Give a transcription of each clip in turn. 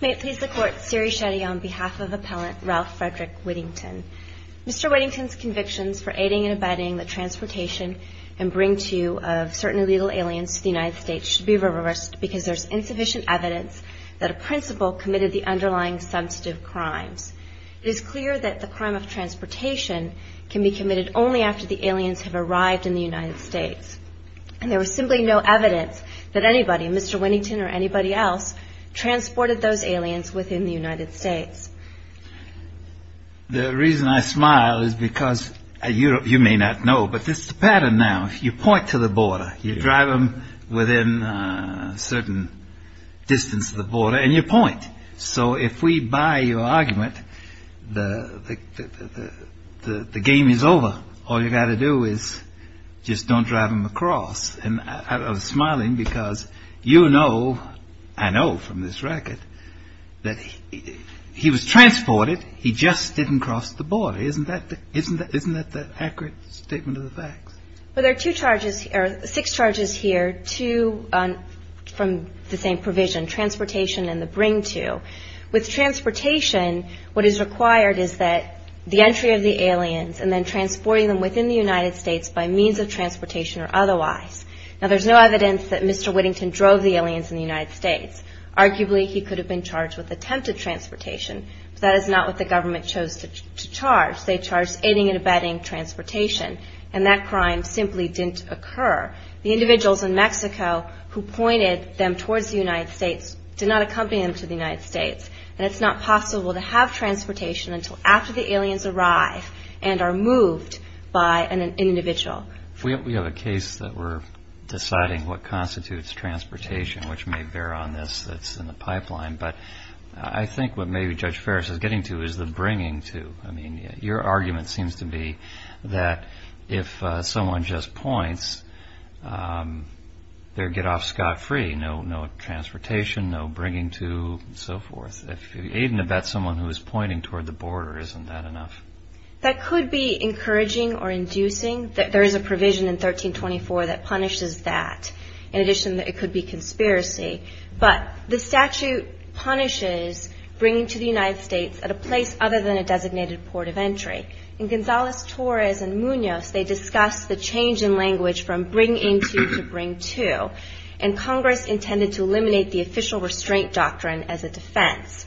May it please the Court, Siri Shetty on behalf of Appellant Ralph Frederick Whittington. Mr. Whittington's convictions for aiding and abetting the transportation and bring-to of certain illegal aliens to the United States should be reversed because there is insufficient evidence that a principal committed the underlying substantive crimes. It is clear that the crime of transportation can be committed only after the aliens have arrived in the United States. And there was simply no evidence that anybody, Mr. Whittington or anybody else, transported those aliens within the United States. The reason I smile is because you may not know, but this is the pattern now. You point to the border, you drive them within a certain distance of the border, and you point. So if we buy your argument, the game is over. All you've got to do is just don't drive them across. And I was smiling because you know, I know from this record, that he was transported. He just didn't cross the border. Well, there are six charges here, two from the same provision, transportation and the bring-to. With transportation, what is required is that the entry of the aliens and then transporting them within the United States by means of transportation or otherwise. Now, there's no evidence that Mr. Whittington drove the aliens in the United States. Arguably, he could have been charged with attempted transportation, but that is not what the government chose to charge. They charged aiding and abetting transportation, and that crime simply didn't occur. The individuals in Mexico who pointed them towards the United States did not accompany them to the United States. And it's not possible to have transportation until after the aliens arrive and are moved by an individual. We have a case that we're deciding what constitutes transportation, which may bear on this that's in the pipeline. But I think what maybe Judge Ferris is getting to is the bring-to. I mean, your argument seems to be that if someone just points, they're get-off-scot-free. No transportation, no bringing-to, and so forth. If you aid and abet someone who is pointing toward the border, isn't that enough? That could be encouraging or inducing. There is a provision in 1324 that punishes that. In addition, it could be conspiracy. But the statute punishes bringing to the United States at a place other than a designated port of entry. In Gonzales-Torres and Munoz, they discussed the change in language from bring-into to bring-to. And Congress intended to eliminate the official restraint doctrine as a defense.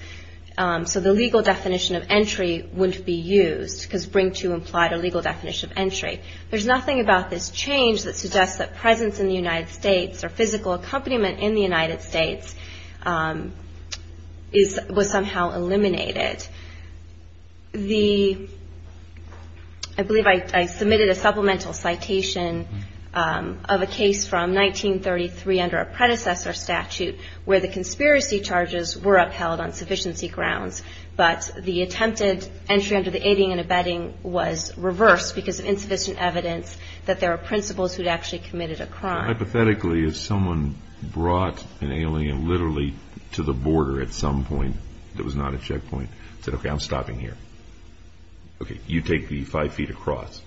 So the legal definition of entry wouldn't be used, because bring-to implied a legal definition of entry. There's nothing about this change that suggests that presence in the United States or physical accompaniment in the United States was somehow eliminated. I believe I submitted a supplemental citation of a case from 1933 under a predecessor statute where the conspiracy charges were upheld on sufficiency grounds, but the attempted entry under the aiding and abetting was reversed because of insufficient evidence that there are principals who had actually committed a crime. Hypothetically, if someone brought an alien literally to the border at some point that was not a checkpoint, said, okay, I'm stopping here, okay, you take the five feet across,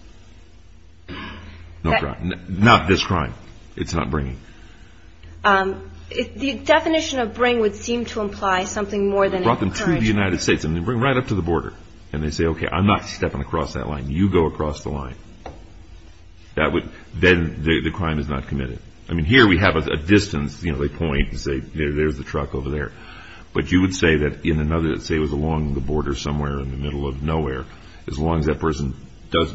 not this crime, it's not bringing. The definition of bring would seem to imply something more than encouraging. If you go to the United States and they bring you right up to the border and they say, okay, I'm not stepping across that line, you go across the line, then the crime is not committed. I mean, here we have a distance, you know, they point and say, there's the truck over there. But you would say that in another, say it was along the border somewhere in the middle of nowhere, as long as that person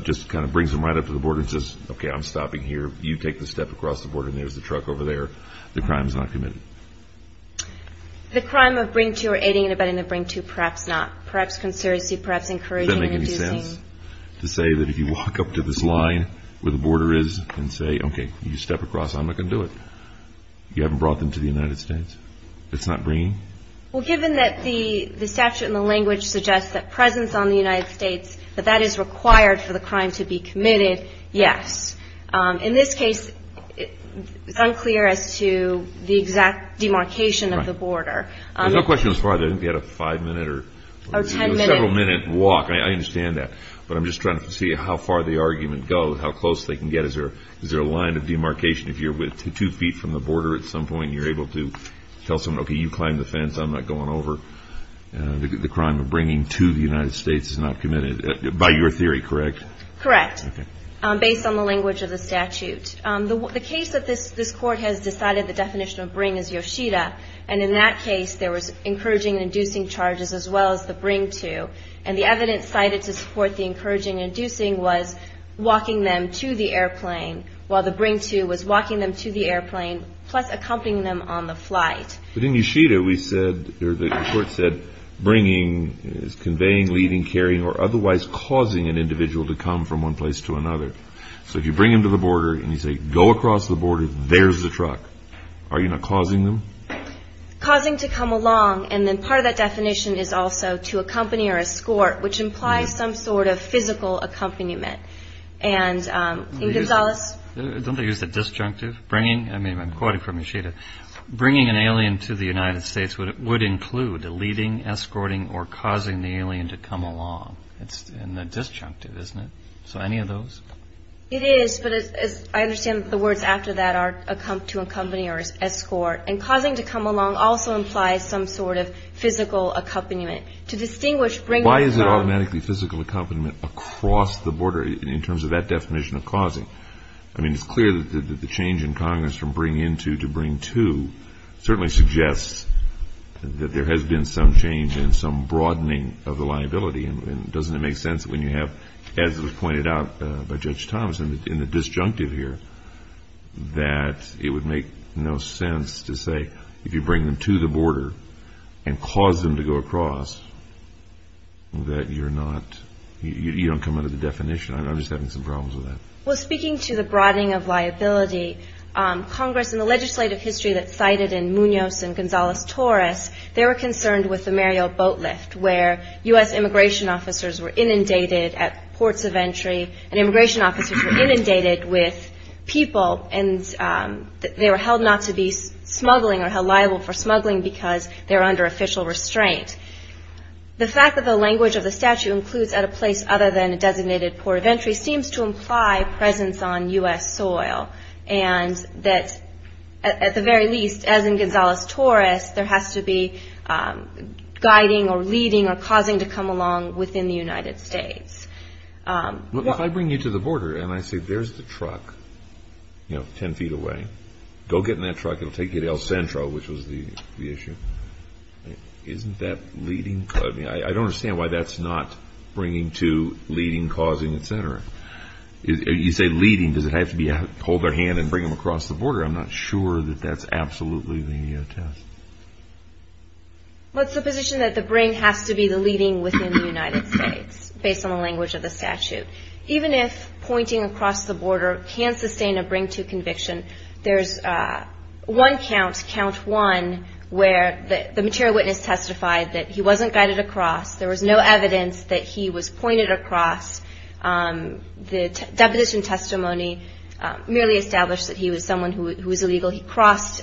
just kind of brings them right up to the border and says, okay, I'm stopping here, you take the step across the border and there's the truck over there, the crime is not committed. The crime of bring two or aiding and abetting the bring two, perhaps not. Perhaps conspiracy, perhaps encouraging and inducing. Does that make any sense? To say that if you walk up to this line where the border is and say, okay, you step across, I'm not going to do it. You haven't brought them to the United States. It's not bringing? Well, given that the statute and the language suggests that presence on the United States, that that is required for the crime to be committed, yes. In this case, it's unclear as to the exact demarcation of the border. There's no question as far as I didn't get a five-minute or several-minute walk. I understand that. But I'm just trying to see how far the argument goes, how close they can get. Is there a line of demarcation if you're two feet from the border at some point and you're able to tell someone, okay, you climb the fence, I'm not going over. The crime of bringing to the United States is not committed by your theory, correct? Correct. Based on the language of the statute. The case that this court has decided the definition of bring is Yoshida. And in that case, there was encouraging and inducing charges as well as the bring to. And the evidence cited to support the encouraging and inducing was walking them to the airplane while the bring to was walking them to the airplane plus accompanying them on the flight. But in Yoshida, we said, or the court said, bringing is conveying, leaving, carrying, or otherwise causing an individual to come from one place to another. So if you bring them to the border and you say, go across the border, there's the truck, are you not causing them? Causing to come along. And then part of that definition is also to accompany or escort, which implies some sort of physical accompaniment. And in Gonzales? Don't they use the disjunctive? I mean, I'm quoting from Yoshida. Bringing an alien to the United States would include leading, escorting, or causing the alien to come along. It's in the disjunctive, isn't it? So any of those? It is, but I understand the words after that are to accompany or escort. And causing to come along also implies some sort of physical accompaniment. Why is it automatically physical accompaniment across the border in terms of that definition of causing? I mean, it's clear that the change in Congress from bring in to to bring to certainly suggests that there has been some change in some broadening of the liability. And doesn't it make sense when you have, as was pointed out by Judge Thomas in the disjunctive here, that it would make no sense to say if you bring them to the border and cause them to go across that you're not, you don't come under the definition. I'm just having some problems with that. Well, speaking to the broadening of liability, Congress in the legislative history that's cited in Munoz and Gonzales-Torres, they were concerned with the Mario Boatlift, where U.S. immigration officers were inundated at ports of entry, and immigration officers were inundated with people, and they were held not to be smuggling or held liable for smuggling because they were under official restraint. The fact that the language of the statute includes at a place other than a designated port of entry seems to imply a presence on U.S. soil, and that at the very least, as in Gonzales-Torres, there has to be guiding or leading or causing to come along within the United States. If I bring you to the border and I say, there's the truck, you know, 10 feet away, go get in that truck, it'll take you to El Centro, which was the issue, isn't that leading? I don't understand why that's not bringing to leading, causing, et cetera. You say leading, does it have to be hold their hand and bring them across the border? I'm not sure that that's absolutely the test. Well, it's the position that the bring has to be the leading within the United States, based on the language of the statute. Even if pointing across the border can sustain a bring-to conviction, there's one count, count one, where the material witness testified that he wasn't guided across, there was no evidence that he was pointed across. The deposition testimony merely established that he was someone who was illegal. He crossed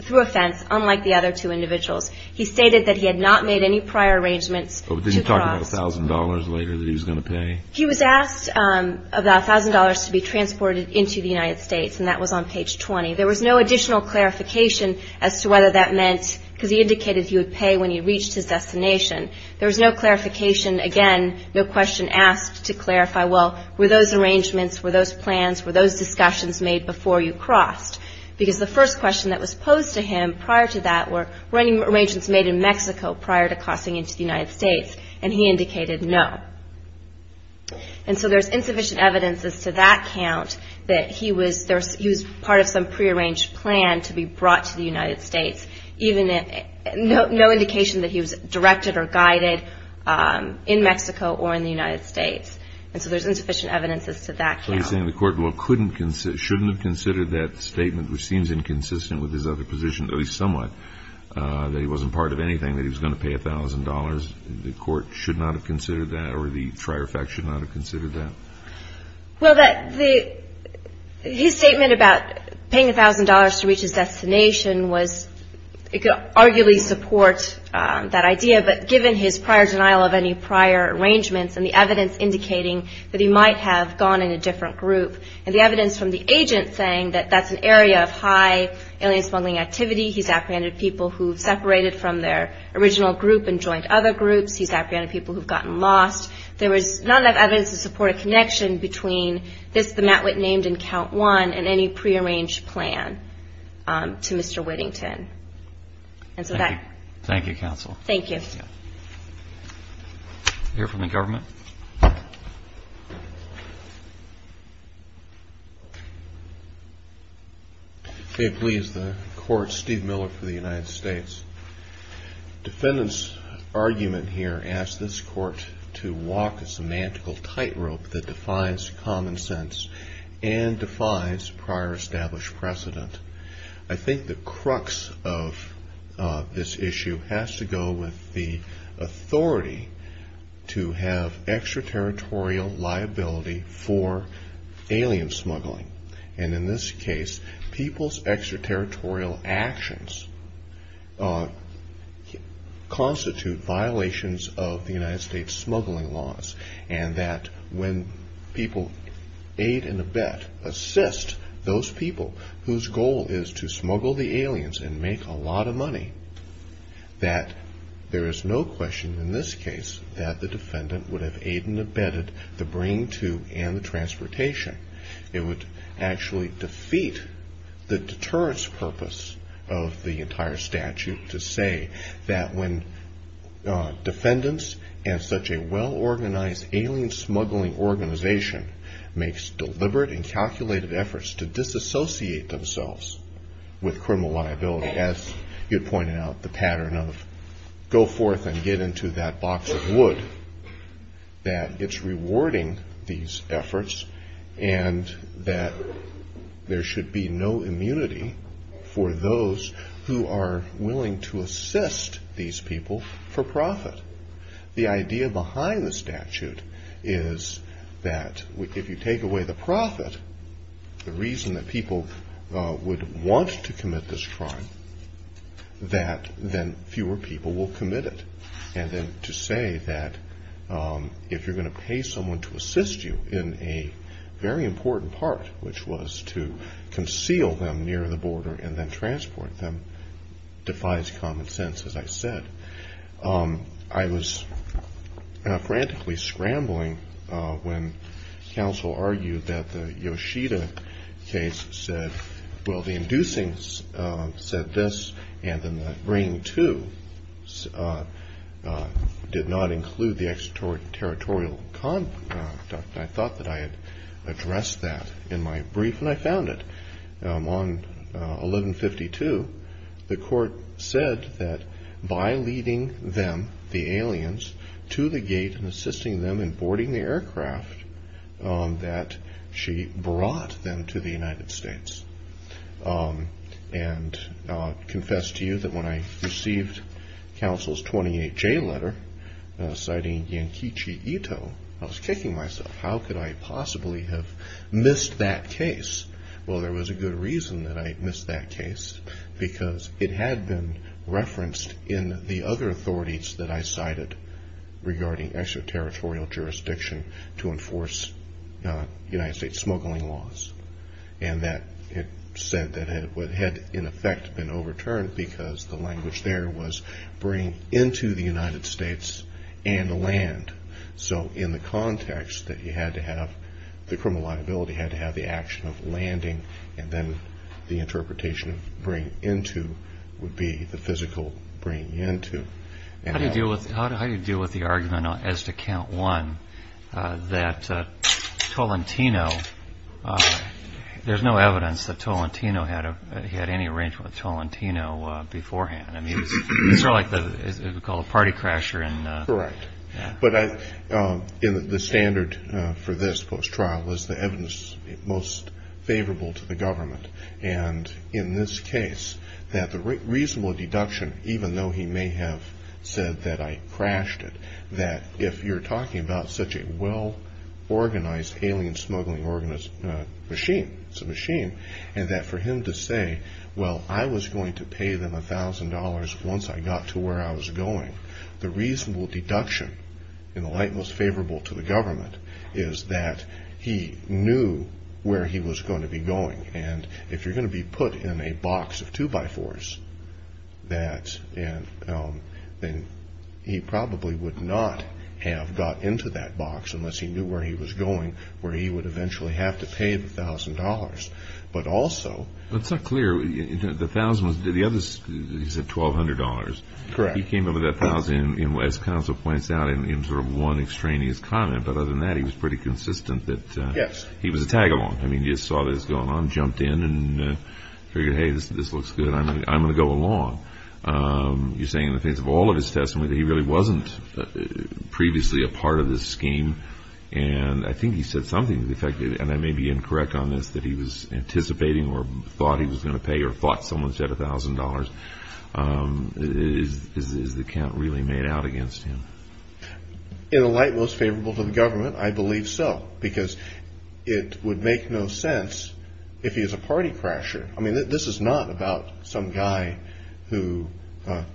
through a fence, unlike the other two individuals. He stated that he had not made any prior arrangements to cross. But didn't he talk about a thousand dollars later that he was going to pay? He was asked about a thousand dollars to be transported into the United States, and that was on page 20. There was no additional clarification as to whether that meant, because he indicated he would pay when he reached his destination. There was no clarification, again, no question asked to clarify, well, were those arrangements, were those plans, were those discussions made before you crossed? Because the first question that was posed to him prior to that were, were any arrangements made in Mexico prior to crossing into the United States? And he indicated no. And so there's insufficient evidence as to that count, that he was part of some prearranged plan to be brought to the United States, no indication that he was directed or guided in Mexico or in the United States. And so there's insufficient evidence as to that count. So you're saying the court shouldn't have considered that statement, which seems inconsistent with his other position, at least somewhat, that he wasn't part of anything, that he was going to pay a thousand dollars. The court should not have considered that, or the prior facts should not have considered that? Well, his statement about paying a thousand dollars to reach his destination was, it could arguably support that idea, but given his prior denial of any prior arrangements and the evidence indicating that he might have gone in a different group, and the evidence from the agent saying that that's an area of high alien smuggling activity, he's apprehended people who've separated from their original group and joined other groups, he's apprehended people who've gotten lost, there was not enough evidence to support a connection between this, the Matwit named in count one, and any prearranged plan to Mr. Whittington. Thank you, counsel. Thank you. We'll hear from the government. May it please the court, Steve Miller for the United States. Defendant's argument here asks this court to walk a semantical tightrope that defines common sense and defines prior established precedent. I think the crux of this issue has to go with the authority to have extraterritorial liability for alien smuggling, and in this case, people's extraterritorial actions constitute violations of the United States smuggling laws, and that when people aid and abet, assist those people whose goal is to smuggle the aliens and make a lot of money, that there is no question in this case that the defendant would have aid and abetted the brain tube and the transportation. It would actually defeat the deterrence purpose of the entire statute to say that when defendants and such a well-organized alien smuggling organization makes deliberate and calculated efforts to disassociate themselves with criminal liability, as you pointed out, the pattern of go forth and get into that box of wood, that it's rewarding these efforts and that there should be no immunity for those who are willing to assist these people for profit. The idea behind the statute is that if you take away the profit, the reason that people would want to commit this crime, that then fewer people will commit it, and then to say that if you're going to pay someone to assist you in a very important part, which was to conceal them near the border and then transport them, defies common sense, as I said. I was frantically scrambling when counsel argued that the Yoshida case said, well, the inducing said this, and then the brain tube did not include the extraterritorial conduct. I thought that I had addressed that in my brief and I found it. On 1152, the court said that by leading them, the aliens, to the gate and assisting them in boarding the aircraft, that she brought them to the United States. I confess to you that when I received counsel's 28-J letter citing Yankechi Ito, I was kicking myself. How could I possibly have missed that case? Well, there was a good reason that I missed that case because it had been referenced in the other authorities that I cited regarding extraterritorial jurisdiction to enforce United States smuggling laws. It said that it had, in effect, been overturned because the language there was bring into the United States and the land. So in the context that you had to have the criminal liability, you had to have the action of landing, and then the interpretation of bring into would be the physical bring into. How do you deal with the argument as to count one that Tolentino, there's no evidence that Tolentino had any arrangement with Tolentino beforehand. I mean, it's sort of like what we call a party crasher. Correct. But the standard for this post-trial was the evidence most favorable to the government. And in this case, that the reasonable deduction, even though he may have said that I crashed it, that if you're talking about such a well-organized alien smuggling machine, it's a machine, and that for him to say, well, I was going to pay them $1,000 once I got to where I was going, the reasonable deduction in the light most favorable to the government is that he knew where he was going to be going. And if you're going to be put in a box of two-by-fours, then he probably would not have got into that box unless he knew where he was going, where he would eventually have to pay the $1,000. But also – That's not clear. The $1,000 was – he said $1,200. Correct. He came over that $1,000, as counsel points out, in sort of one extraneous comment. But other than that, he was pretty consistent that – Yes. He was a tag-along. I mean, he just saw this going on, jumped in, and figured, hey, this looks good. I'm going to go along. He's saying in the face of all of his testimony that he really wasn't previously a part of this scheme. And I think he said something to the effect, and I may be incorrect on this, that he was anticipating or thought he was going to pay or thought someone said $1,000. Is the count really made out against him? In the light most favorable to the government, I believe so, because it would make no sense if he was a party crasher. I mean, this is not about some guy who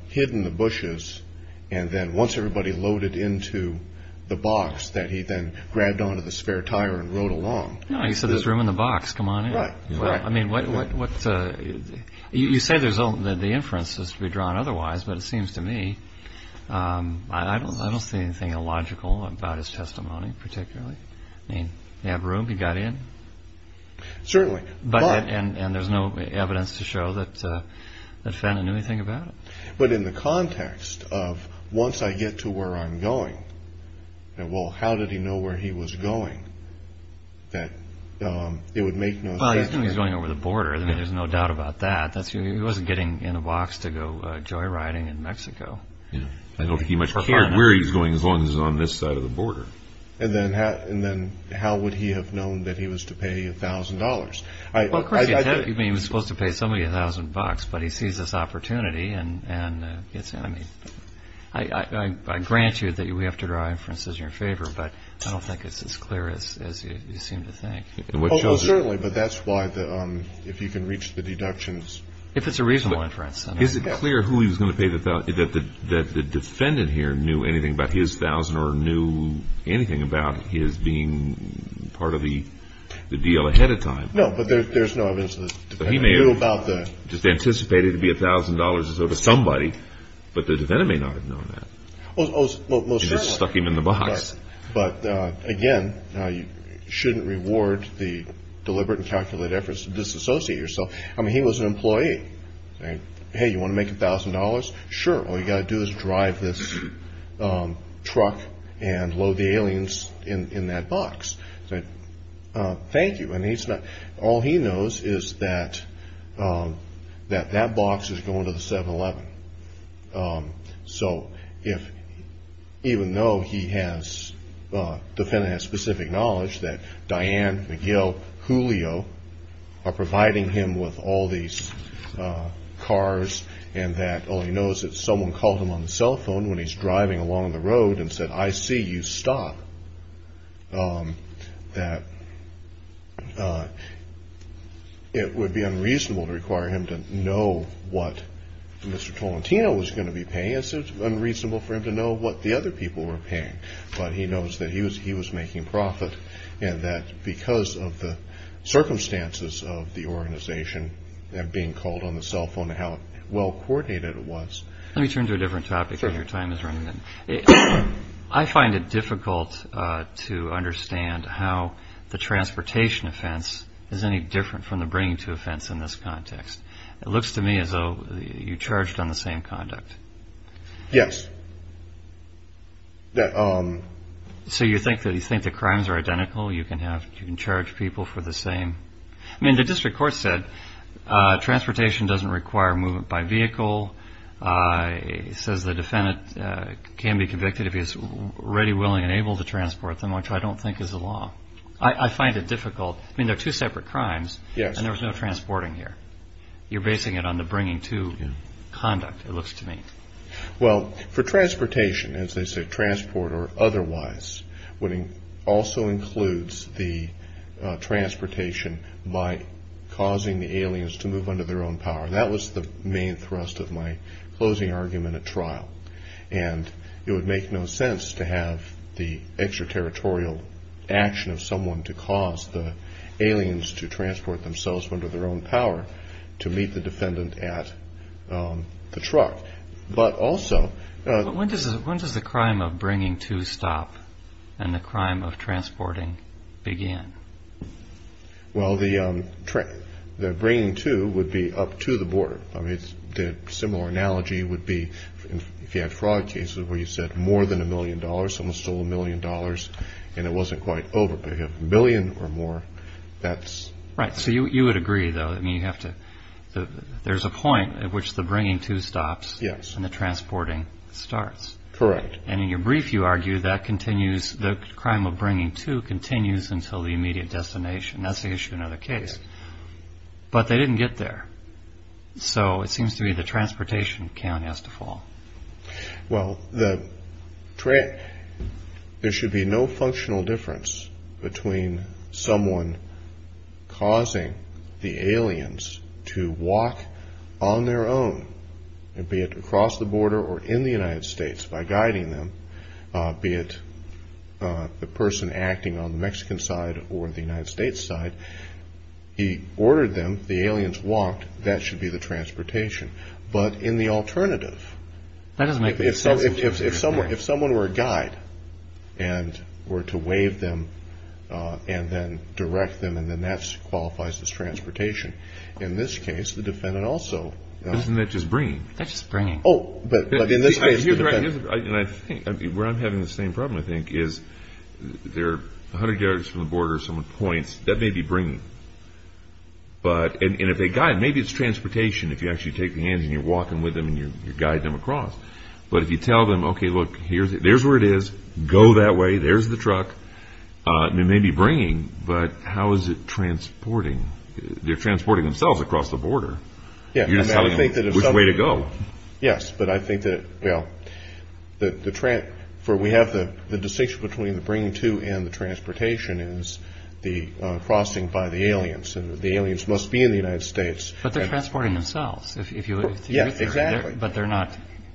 hid in the bushes, and then once everybody loaded into the box that he then grabbed onto the spare tire and rode along. No, he said there's room in the box. Come on in. Right, right. I mean, what – you say the inference is to be drawn otherwise, but it seems to me – I don't see anything illogical about his testimony, particularly. I mean, he had room. He got in. Certainly. But – And there's no evidence to show that Fenton knew anything about it. But in the context of once I get to where I'm going, well, how did he know where he was going that it would make no sense? Well, he was going over the border. I mean, there's no doubt about that. He wasn't getting in a box to go joyriding in Mexico. I don't think he much cared where he was going as long as he was on this side of the border. And then how would he have known that he was to pay $1,000? Well, of course, he was supposed to pay somebody $1,000, but he sees this opportunity and gets in. I mean, I grant you that we have to draw inferences in your favor, but I don't think it's as clear as you seem to think. Well, certainly, but that's why the – if you can reach the deductions. If it's a reasonable inference. Is it clear who he was going to pay the $1,000, that the defendant here knew anything about his $1,000 or knew anything about his being part of the deal ahead of time? No, but there's no evidence that the defendant knew about that. He may have anticipated it to be $1,000 or so to somebody, but the defendant may not have known that. Well, certainly. It just stuck him in the box. But, again, you shouldn't reward the deliberate and calculated efforts to disassociate yourself. I mean, he was an employee. Hey, you want to make $1,000? Sure. All you've got to do is drive this truck and load the aliens in that box. Thank you. All he knows is that that box is going to the 7-Eleven. So even though he has – the defendant has specific knowledge that Diane, McGill, Julio are providing him with all these cars and that all he knows is that someone called him on the cell phone when he's driving along the road and said, I see you stop, that it would be unreasonable to require him to know what Mr. Tolentino was going to be paying. It's unreasonable for him to know what the other people were paying. But he knows that he was making profit and that because of the circumstances of the organization and being called on the cell phone and how well coordinated it was. Let me turn to a different topic because your time is running out. I find it difficult to understand how the transportation offense is any different from the bringing to offense in this context. It looks to me as though you charged on the same conduct. Yes. So you think the crimes are identical? You can charge people for the same – I mean, the district court said transportation doesn't require movement by vehicle. It says the defendant can be convicted if he's ready, willing and able to transport them, which I don't think is the law. I find it difficult. I mean, they're two separate crimes and there was no transporting here. You're basing it on the bringing to conduct, it looks to me. Well, for transportation, as they say, transport or otherwise, also includes the transportation by causing the aliens to move under their own power. That was the main thrust of my closing argument at trial. And it would make no sense to have the extraterritorial action of someone to cause the aliens to transport themselves under their own power to meet the defendant at the truck. But also – When does the crime of bringing to stop and the crime of transporting begin? Well, the bringing to would be up to the border. I mean, the similar analogy would be if you had fraud cases where you said more than a million dollars, someone stole a million dollars and it wasn't quite over, but you have a million or more, that's – Right. So you would agree, though. I mean, you have to – there's a point at which the bringing to stops. Yes. And the transporting starts. Correct. And in your brief, you argue that continues – the crime of bringing to continues until the immediate destination. That's the issue in another case. But they didn't get there. So it seems to me the transportation count has to fall. Well, the – there should be no functional difference between someone causing the aliens to walk on their own, be it across the border or in the United States, by guiding them, be it the person acting on the Mexican side or the United States side. He ordered them, the aliens walked, that should be the transportation. But in the alternative – That doesn't make – If someone were a guide and were to wave them and then direct them, and then that qualifies as transportation. In this case, the defendant also – Isn't that just bringing? That's just bringing. Oh. But in this case, the defendant – Here's where I'm having the same problem, I think, is they're 100 yards from the border. Someone points. That may be bringing. But – and if they guide – maybe it's transportation if you actually take the hands and you're walking with them and you guide them across. But if you tell them, okay, look, here's – there's where it is. Go that way. There's the truck. It may be bringing, but how is it transporting? They're transporting themselves across the border. Yeah. Which way to go. Yes. But I think that, well, the – for we have the distinction between the bringing to and the transportation is the crossing by the aliens. And the aliens must be in the United States. But they're transporting themselves if you – Yeah, exactly. But they're not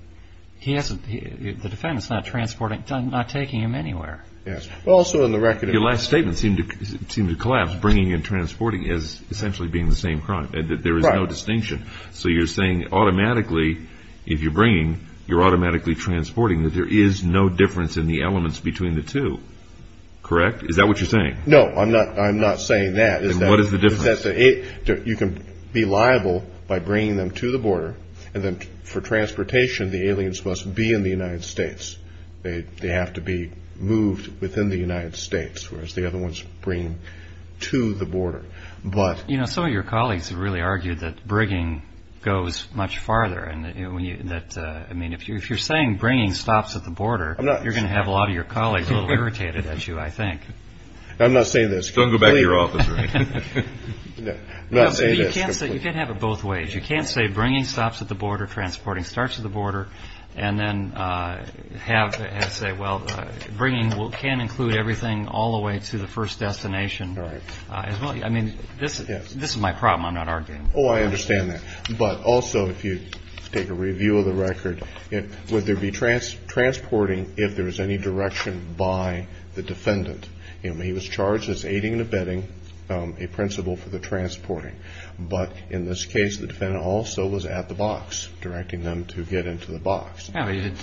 – he hasn't – the defendant's not transporting – not taking him anywhere. Yes. Also in the record – Your last statement seemed to collapse. Bringing and transporting is essentially being the same crime. Right. There is no distinction. So you're saying automatically, if you're bringing, you're automatically transporting, that there is no difference in the elements between the two. Correct? Is that what you're saying? No, I'm not saying that. Then what is the difference? You can be liable by bringing them to the border, and then for transportation, the aliens must be in the United States. They have to be moved within the United States, whereas the other one's bringing to the border. But – You know, some of your colleagues have really argued that bringing goes much farther. And that, I mean, if you're saying bringing stops at the border, you're going to have a lot of your colleagues a little irritated at you, I think. I'm not saying this completely. Don't go back to your office. I'm not saying this completely. No, but you can't have it both ways. You can't say bringing stops at the border, transporting starts at the border, and then have – say, well, bringing can include everything all the way to the first destination. Right. I mean, this is my problem. I'm not arguing. Oh, I understand that. But also, if you take a review of the record, would there be transporting if there was any direction by the defendant? I mean, he was charged as aiding and abetting a principle for the transporting. But in this case, the defendant also was at the box, directing them to get into the box. Oh, he did.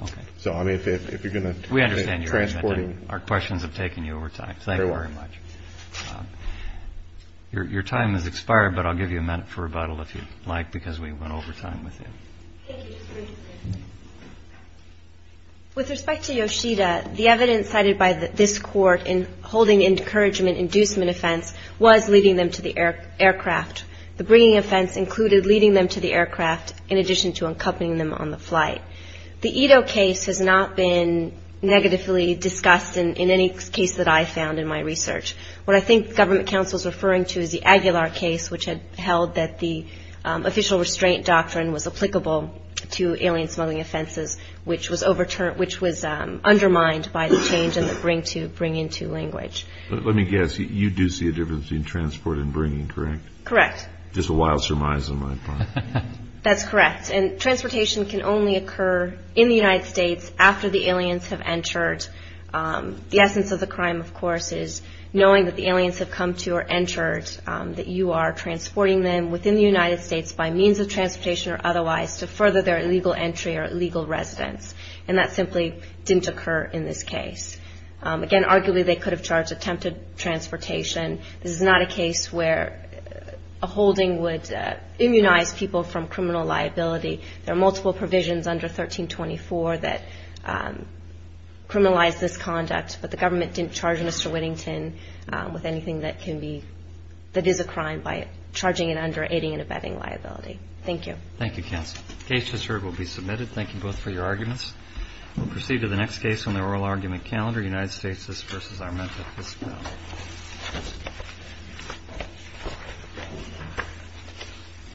Okay. So, I mean, if you're going to – We understand your argument. Transporting. Our questions have taken you over time. Thank you very much. You're welcome. Your time has expired, but I'll give you a minute for rebuttal if you'd like, because we went over time with you. Thank you. With respect to Yoshida, the evidence cited by this court in holding encouragement-inducement offense was leading them to the aircraft. The bringing offense included leading them to the aircraft in addition to accompanying them on the flight. The Ito case has not been negatively discussed in any case that I found in my research. What I think government counsel is referring to is the Aguilar case, which had held that the official restraint doctrine was applicable to alien smuggling offenses, which was undermined by the change in the bring-to, bring-into language. Let me guess. You do see a difference between transport and bringing, correct? Correct. Just a wild surmise on my part. That's correct. And transportation can only occur in the United States after the aliens have entered. The essence of the crime, of course, is knowing that the aliens have come to or entered, that you are transporting them within the United States by means of transportation or otherwise to further their illegal entry or illegal residence. And that simply didn't occur in this case. Again, arguably they could have charged attempted transportation. This is not a case where a holding would immunize people from criminal liability. There are multiple provisions under 1324 that criminalize this conduct, but the government didn't charge Mr. Whittington with anything that can be, that is a crime by charging it under aiding and abetting liability. Thank you. Thank you, counsel. The case has heard will be submitted. Thank you both for your arguments. We'll proceed to the next case on the oral argument calendar, United States v. Armenta Fiscal.